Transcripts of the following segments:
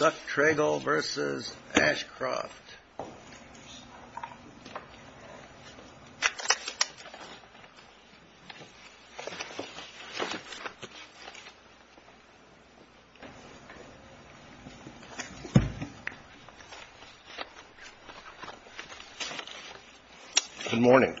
Good morning.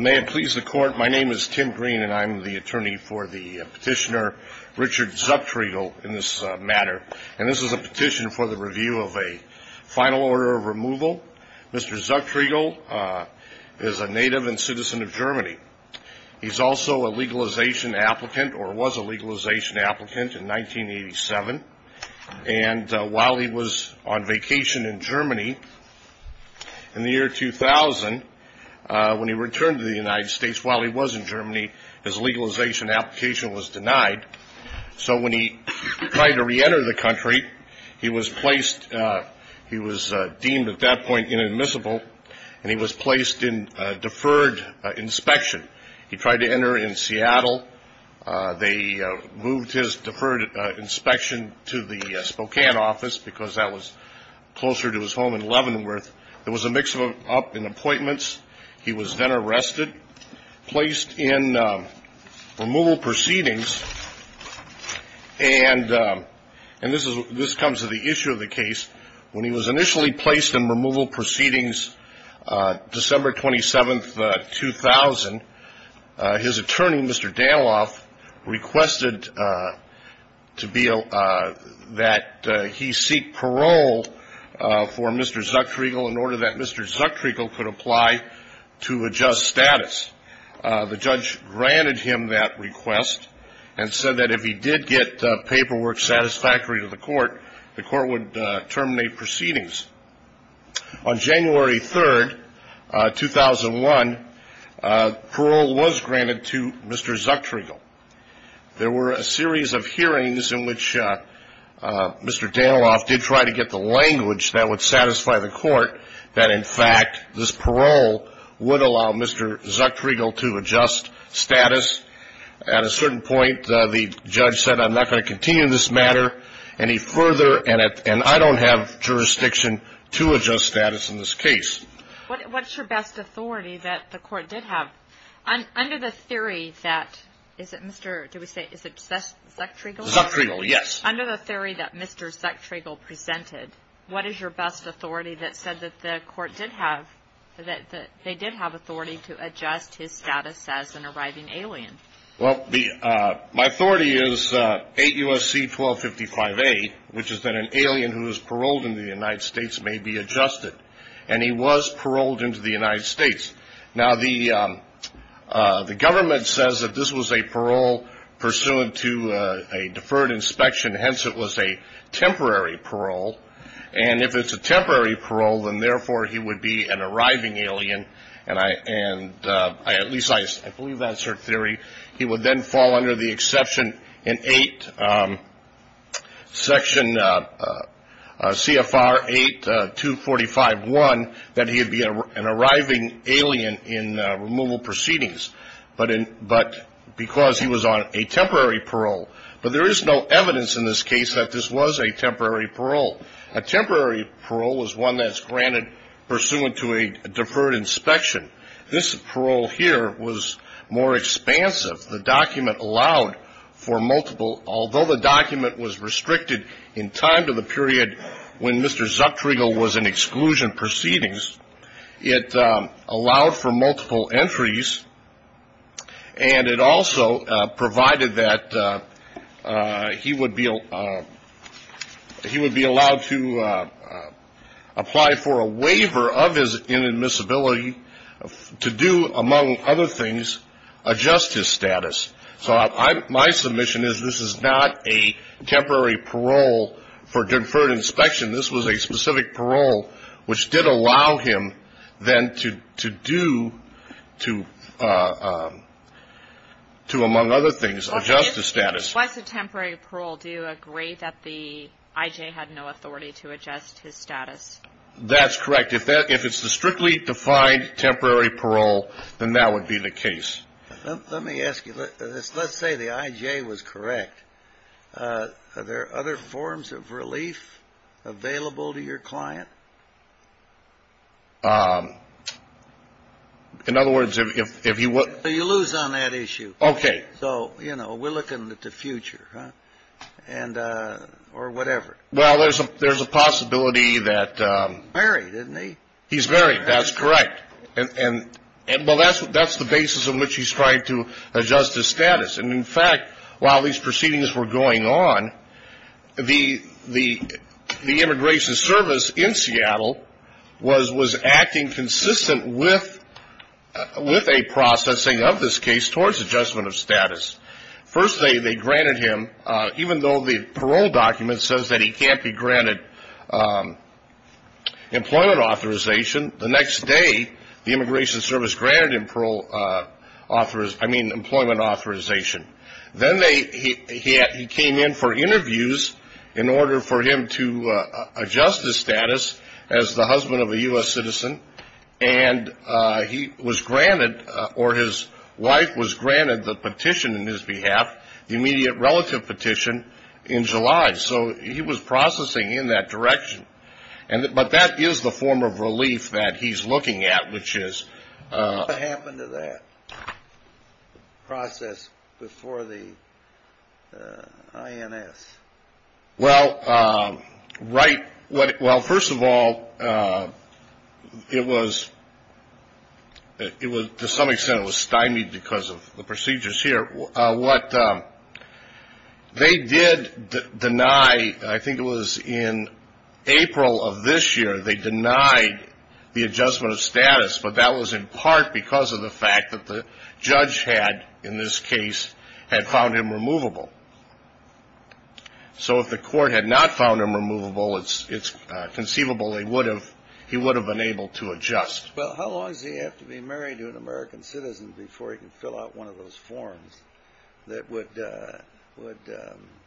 May it please the Court, my name is Tim Green and I'm the attorney for the petitioner Richard Zucktriegel in this matter. And this is a petition for the review of a final order of removal. Mr. Zucktriegel is a native and citizen of Germany. He's also a legalization applicant or was a legalization applicant in 1987. And while he was on vacation in Germany in the year 2000, when he returned to the United States, while he was in Germany, his legalization application was denied. So when he tried to reenter the country, he was deemed at that point inadmissible and he was placed in deferred inspection. He tried to enter in Seattle. They moved his deferred inspection to the Spokane office because that was closer to his home in Leavenworth. There was a mix-up in appointments. He was then arrested, placed in removal proceedings. And this comes to the issue of the case. When he was initially placed in removal proceedings, December 27, 2000, his attorney, Mr. Daniloff, requested that he seek parole for Mr. Zucktriegel in order that Mr. Zucktriegel could apply to adjust status. The judge granted him that request and said that if he did get paperwork satisfactory to the court, the court would terminate proceedings. On January 3, 2001, parole was granted to Mr. Zucktriegel. There were a series of hearings in which Mr. Daniloff did try to get the language that would satisfy the court that, in fact, this parole would allow Mr. Zucktriegel to adjust status. At a certain point, the judge said, I'm not going to continue this matter any further, and I don't have jurisdiction to adjust status in this case. What's your best authority that the court did have? Under the theory that, is it Mr. — do we say — is it Zucktriegel? Zucktriegel, yes. Under the theory that Mr. Zucktriegel presented, what is your best authority that said that the they did have authority to adjust his status as an arriving alien? Well, my authority is 8 U.S.C. 1255A, which is that an alien who is paroled in the United States may be adjusted. And he was paroled into the United States. Now, the government says that this was a parole pursuant to a deferred inspection. Hence, it was a temporary parole. And if it's a temporary parole, then, therefore, he would be an arriving alien. And I — and at least I believe that's your theory. He would then fall under the exception in 8 Section CFR 8245.1, that he would be an arriving alien in removal proceedings. But in — but because he was on a temporary parole. But there is no evidence in this case that this was a temporary parole. It was one that's granted pursuant to a deferred inspection. This parole here was more expansive. The document allowed for multiple — although the document was restricted in time to the period when Mr. Zucktriegel was in exclusion proceedings, it allowed for multiple to apply for a waiver of his inadmissibility to do, among other things, adjust his status. So my submission is this is not a temporary parole for deferred inspection. This was a specific parole which did allow him, then, to do — to, among other things, adjust his status. What's a temporary parole? Do you agree that the I.J. had no authority to adjust his status? That's correct. If it's the strictly defined temporary parole, then that would be the case. Let me ask you this. Let's say the I.J. was correct. Are there other forms of relief available to your client? In other words, if you — You lose on that issue. Okay. So, you know, we're looking at the future, huh? And — or whatever. Well, there's a possibility that — Married, isn't he? He's married. That's correct. And, well, that's the basis on which he's trying to adjust his status. And, in fact, while these proceedings were going on, the immigration service in Seattle was acting consistent with a processing of this case towards adjustment of status. First, they granted him — even though the parole document says that he can't be granted employment authorization, the next day, the immigration service granted him parole authorization — I mean, employment authorization. Then they — he came in for interviews in order for him to adjust his status as the husband of a U.S. citizen. And he was granted — or his wife was granted the petition on his behalf, the immediate relative petition, in July. So he was processing in that direction. And — but that is the form of relief that he's looking at, which is — What happened to that process before the I.N.S.? Well, right — well, first of all, it was — to some extent, it was stymied because of the procedures here. What they did deny — I think it was in April of this year, they denied the adjustment of status. But that was in part because of the fact that the court had not found him removable. It's conceivable they would have — he would have been able to adjust. Well, how long does he have to be married to an American citizen before he can fill out one of those forms that would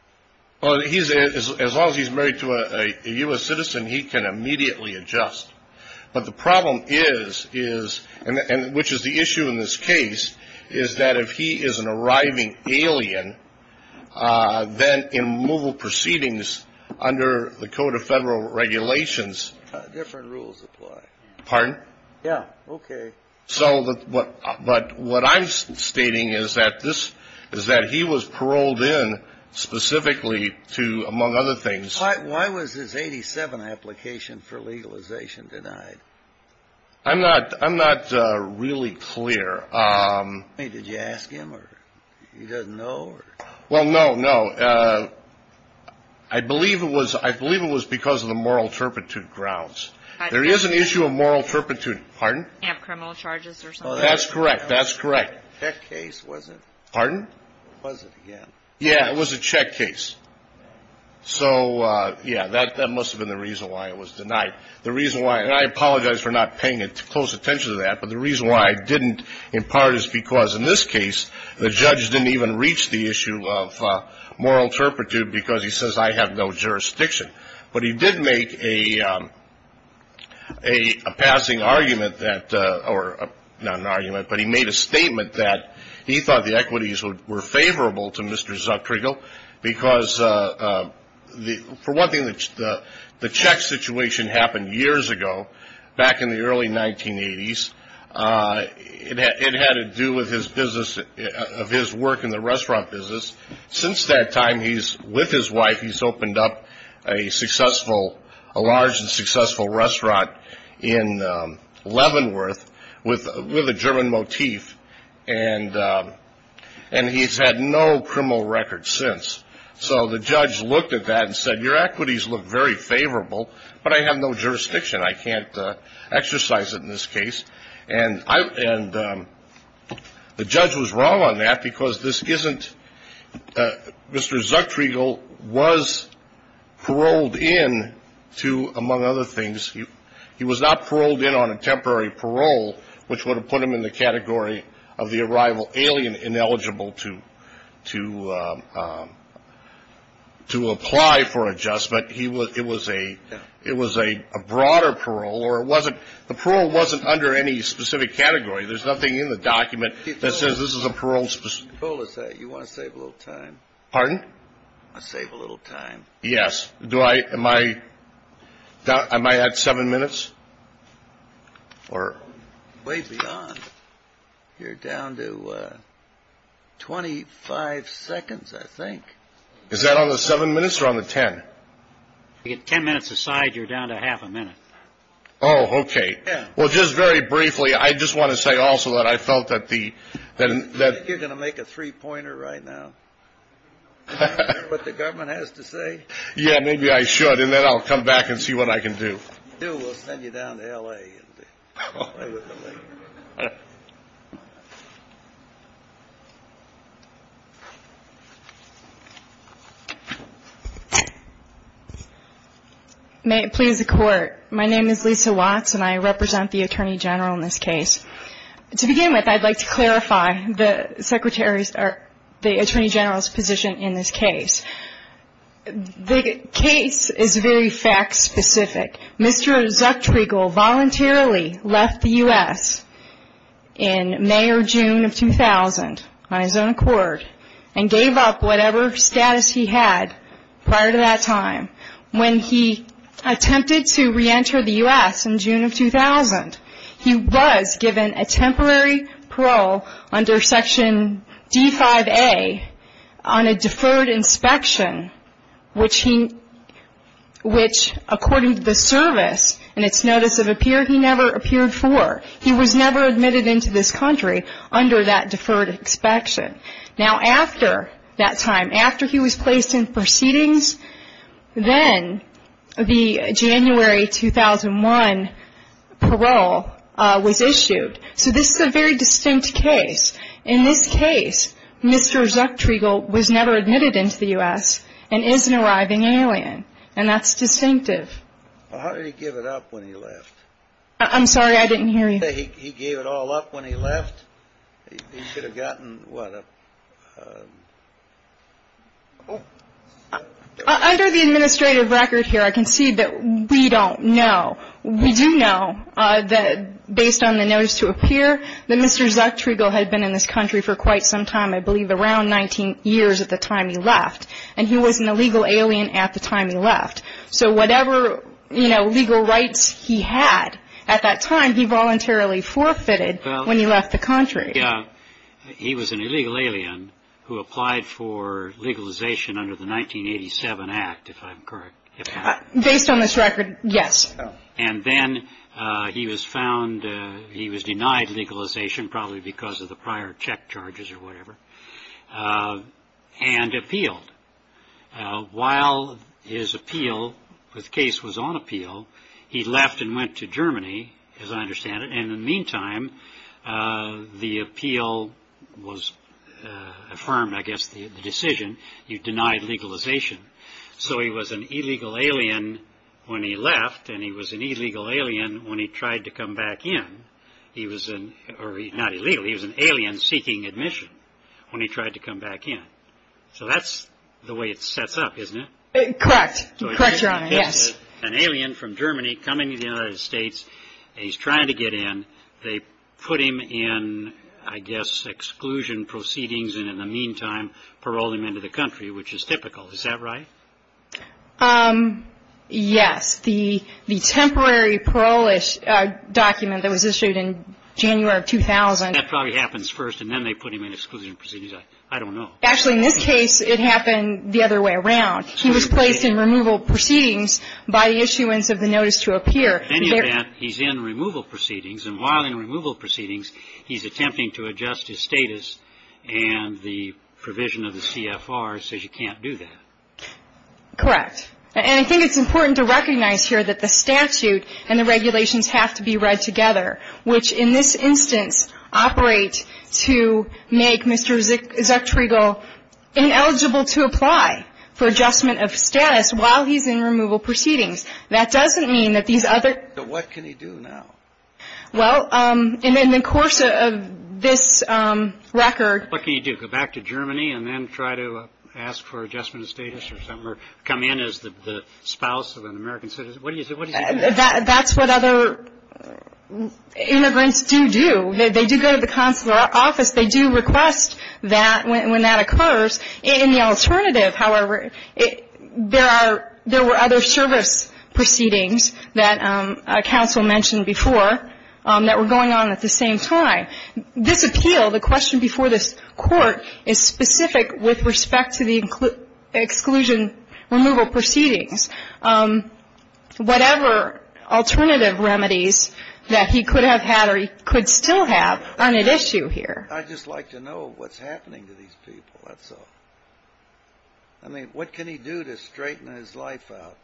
— Well, he's — as long as he's married to a U.S. citizen, he can immediately adjust. But the problem is — and which is the issue in this case — is that if he is an arriving alien, then in removal proceedings under the Code of Federal Regulations — Different rules apply. Pardon? Yeah. Okay. So — but what I'm stating is that this — is that he was paroled in specifically to, among other things — Why was his 87 application for legalization denied? I'm not — I'm not really clear. I mean, did you ask him, or he doesn't know, or — Well, no, no. I believe it was — I believe it was because of the moral turpitude grounds. There is an issue of moral turpitude. Pardon? You have criminal charges or something? That's correct. That's correct. Check case, was it? Pardon? Was it, yeah. Yeah, it was a check case. So, yeah, that must have been the reason why it was denied. The reason why — and I apologize for not paying close attention to that, but the reason why it didn't, in part, is because in this case, the judge didn't even reach the issue of moral turpitude because he says, I have no jurisdiction. But he did make a — a passing argument that — or not an argument, but he made a statement that he thought the equities were favorable to Mr. Zuckrigal because the — for one thing, the check situation happened years ago, back in the early 1980s. It had to do with his business — of his work in the restaurant business. Since that time, he's — with his wife, he's opened up a successful — a large and successful restaurant in Leavenworth with a German motif, and he's had no criminal record since. So the judge looked at that and said, your equities look very favorable, but I have no jurisdiction. I can't exercise it in this case. And I — and the judge was wrong on that because this isn't — Mr. Zuckrigal was paroled in to, among other things — he was not paroled in on a temporary parole, which would have put him in the category of the arrival alien ineligible to — to apply for adjustment. He was — it was a — it was a broader parole, or it wasn't — the parole wasn't under any specific category. There's nothing in the document that says this is a parole — Parole is a — you want to save a little time? Pardon? Let's save a little time. Yes. Do I — am I — am I at seven minutes? Or — Way beyond. You're down to 25 seconds, I think. Is that on the seven minutes or on the 10? You get 10 minutes aside, you're down to half a minute. Oh, okay. Well, just very briefly, I just want to say also that I felt that the — that — I think you're going to make a three-pointer right now. Is that what the government has to say? Yeah, maybe I should, and then I'll come back and see what I can do. We'll send you down to L.A. and we'll come back. May it please the Court. My name is Lisa Watts, and I represent the Attorney General in this case. To begin with, I'd like to clarify the Secretary's — or the Attorney General's position in this case. The case is very fact-specific. Mr. Zucktriegel voluntarily left the U.S. in May or June of 2000 on his own accord and gave up whatever status he had prior to that time. When he attempted to reenter the U.S. in June of 2000, he was given a temporary parole under Section D-5A on a deferred inspection, which he — which, according to the service and its notice of appearance, he never appeared for. He was never admitted into this country under that deferred inspection. Now, after that time, after he was placed in proceedings, then the January 2001 parole was issued. So this is a very distinct case. In this case, Mr. Zucktriegel was never admitted into the U.S. and is an arriving alien, and that's distinctive. Well, how did he give it up when he left? I'm sorry, I didn't hear you. He gave it all up when he left? He should have gotten, what, a... Under the administrative record here, I can see that we don't know. We do know that, based on the notice to appear, that Mr. Zucktriegel had been in this country for quite some time, I believe around 19 years at the time he left, and he was an illegal alien at the time he left. So whatever, you know, legal rights he had at that time, he voluntarily forfeited when he left the country. He was an illegal alien who applied for legalization under the 1987 Act, if I'm correct. Based on this record, yes. And then he was found, he was denied legalization, probably because of the prior check charges or whatever, and appealed. While his appeal, his case was on appeal, he left and went to Germany, as I understand it, and in the meantime, the appeal was affirmed, I guess, the decision, he denied legalization. So he was an illegal alien when he left, and he was an illegal alien when he tried to come back in. He was an, or not illegal, he was an alien seeking admission when he tried to come back in. So that's the way it sets up, isn't it? Correct. Correct, Your Honor, yes. An alien from Germany coming to the United States, and he's trying to get in. They put him in, I guess, exclusion proceedings, and in the meantime, paroled him into the country, which is typical. Is that right? Yes, the temporary parole document that was issued in January of 2000. That probably happens first, and then they put him in exclusion proceedings. I don't know. Actually, in this case, it happened the other way around. He was placed in removal proceedings by the issuance of the notice to appear. In any event, he's in removal proceedings, and while in removal proceedings, he's attempting to adjust his status, and the provision of the CFR says you can't do that. Correct. And I think it's important to recognize here that the statute and the regulations have to be read together, which in this instance operate to make Mr. Zucktriegel ineligible to apply for adjustment of status while he's in removal proceedings. That doesn't mean that these other ---- But what can he do now? Well, in the course of this record ---- What can he do? Go back to Germany and then try to ask for adjustment of status or something, or come in as the spouse of an American citizen? What do you say? What does he do? That's what other immigrants do do. They do go to the consular office. They do request that when that occurs. In the alternative, however, there were other service proceedings that counsel mentioned before that were going on at the same time. This appeal, the question before this Court, is specific with respect to the exclusion removal proceedings. Whatever alternative remedies that he could have had or he could still have aren't at issue here. I'd just like to know what's happening to these people, that's all. I mean, what can he do to straighten his life out?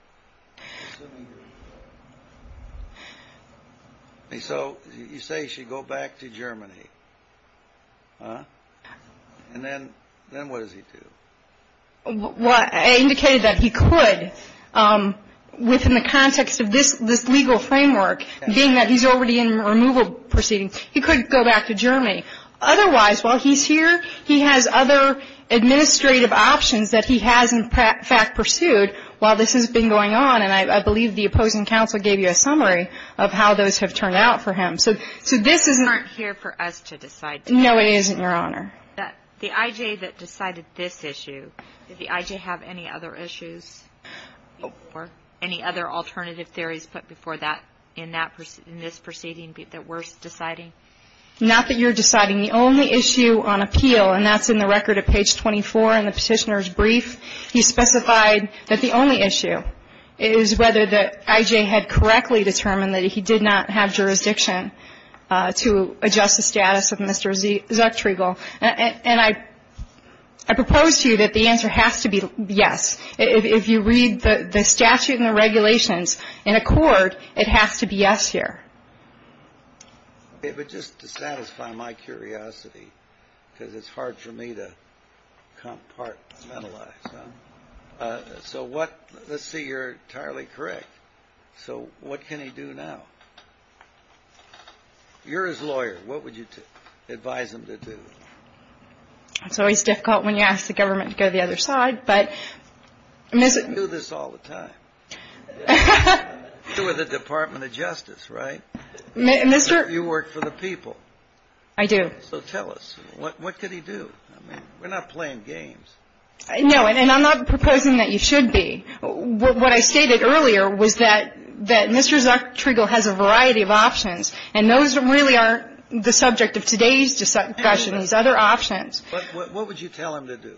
So you say he should go back to Germany. And then what does he do? Well, I indicated that he could within the context of this legal framework, being that he's already in removal proceedings. He could go back to Germany. Otherwise, while he's here, he has other administrative options that he has, in fact, pursued while this has been going on. And I believe the opposing counsel gave you a summary of how those have turned out for him. So this is not here for us to decide. No, it isn't, Your Honor. The I.J. that decided this issue, did the I.J. have any other issues or any other alternative theories put before that in this proceeding that we're deciding? Not that you're deciding. The only issue on appeal, and that's in the record at page 24 in the Petitioner's Brief, he specified that the only issue is whether the I.J. had correctly determined that he did not have jurisdiction to adjust the status of Mr. Zucktriegel. And I propose to you that the answer has to be yes. If you read the statute and the regulations in accord, it has to be yes here. But just to satisfy my curiosity, because it's hard for me to compartmentalize, so what – let's say you're entirely correct. So what can he do now? You're his lawyer. What would you advise him to do? It's always difficult when you ask the government to go to the other side, but – You do this all the time. You're with the Department of Justice, right? Mr. – You work for the people. I do. So tell us, what could he do? We're not playing games. No, and I'm not proposing that you should be. What I stated earlier was that Mr. Zucktriegel has a variety of options, and those really aren't the subject of today's discussion. These are other options. But what would you tell him to do?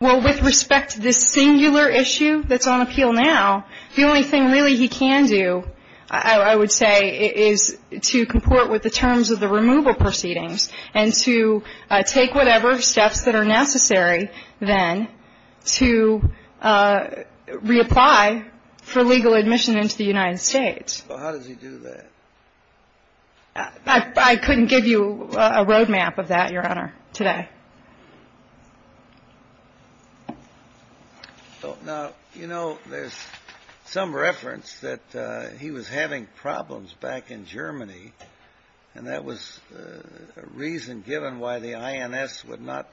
Well, with respect to this singular issue that's on appeal now, the only thing really he can do, I would say, is to comport with the terms of the removal proceedings and to take whatever steps that are necessary then to reapply for legal admission into the United States. How does he do that? I couldn't give you a roadmap of that, Your Honor, today. Now, you know, there's some reference that he was having problems back in Germany, and that was a reason given why the INS would not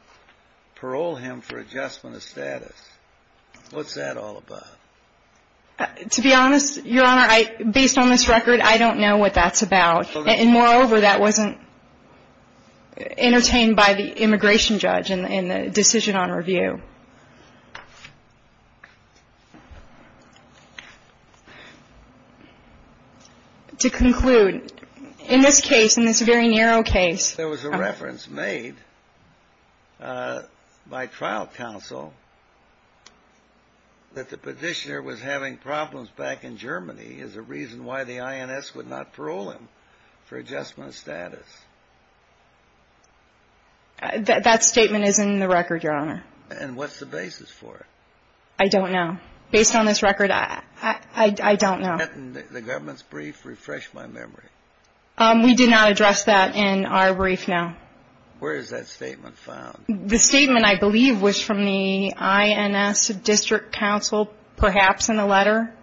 parole him for adjustment of status. What's that all about? To be honest, Your Honor, based on this record, I don't know what that's about. And moreover, that wasn't entertained by the immigration judge in the decision on review. To conclude, in this case, in this very narrow case, there was a reference made by trial counsel that the petitioner was having problems back in Germany as a reason why the INS would not parole him for adjustment of status. And what's the basis for it? I don't know. Based on this record, I don't know. The government's brief refreshed my memory. We did not address that in our brief, no. Where is that statement found? The statement, I believe, was from the INS district counsel, perhaps in the letter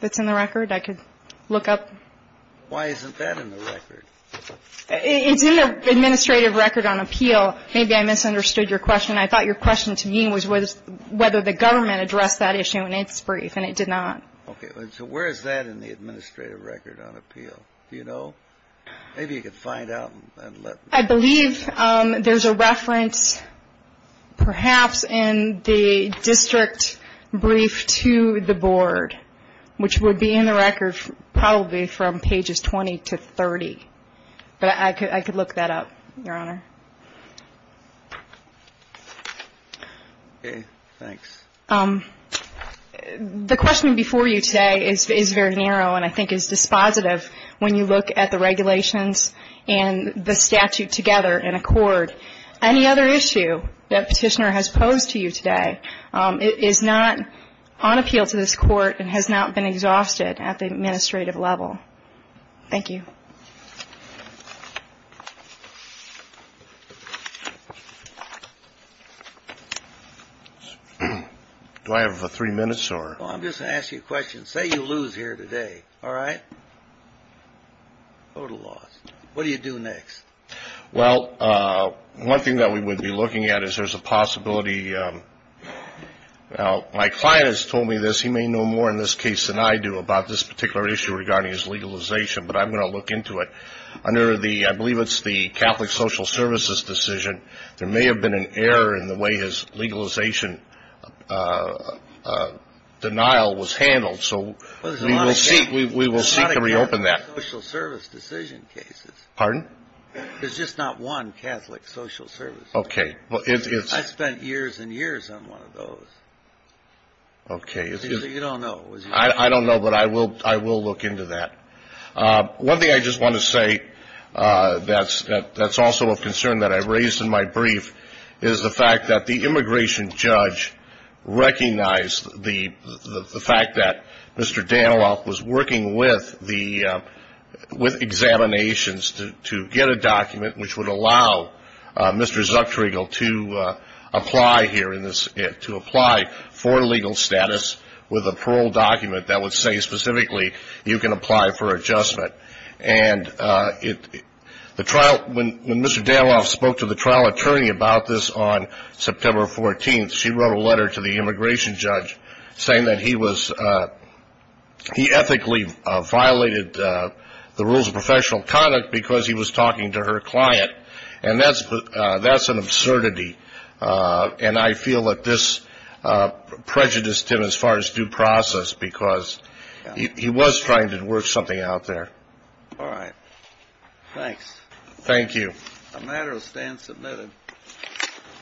that's in the record. I could look up. Why isn't that in the record? It's in the administrative record on appeal. Maybe I misunderstood your question. I thought your question to me was whether the government addressed that issue in its brief, and it did not. Okay. So where is that in the administrative record on appeal? Do you know? Maybe you could find out and let me know. I believe there's a reference, perhaps, in the district brief to the board, which would be in the record probably from pages 20 to 30. But I could look that up, Your Honor. Okay. Thanks. The question before you today is very narrow and I think is dispositive when you look at the regulations and the statute together in accord. Any other issue that Petitioner has posed to you today is not on appeal to this court and has not been exhausted at the administrative level. Thank you. Do I have three minutes? Well, I'm just going to ask you a question. Say you lose here today, all right? Total loss. What do you do next? Well, one thing that we would be looking at is there's a possibility. Now, my client has told me this. He may know more in this case than I do about this particular issue regarding his legalization, but I'm going to look into it. Under the, I believe it's the Catholic Social Services decision, there may have been an legalization denial was handled. So we will seek to reopen that. There's not a Catholic Social Service decision cases. Pardon? There's just not one Catholic Social Service. Okay. I spent years and years on one of those. Okay. So you don't know. I don't know, but I will look into that. One thing I just want to say that's also a concern that I raised in my brief is the fact that the immigration judge recognized the fact that Mr. Danilov was working with examinations to get a document which would allow Mr. Zucktriegel to apply for legal status with a parole document that would say specifically you can apply for adjustment. And when Mr. Danilov spoke to the trial attorney about this on September 14th, she wrote a letter to the immigration judge saying that he ethically violated the rules of professional conduct because he was talking to her client. And that's an absurdity. And I feel that this prejudiced him as far as due process because he was trying to work something out there. All right. Thanks. Thank you. The matter is then submitted.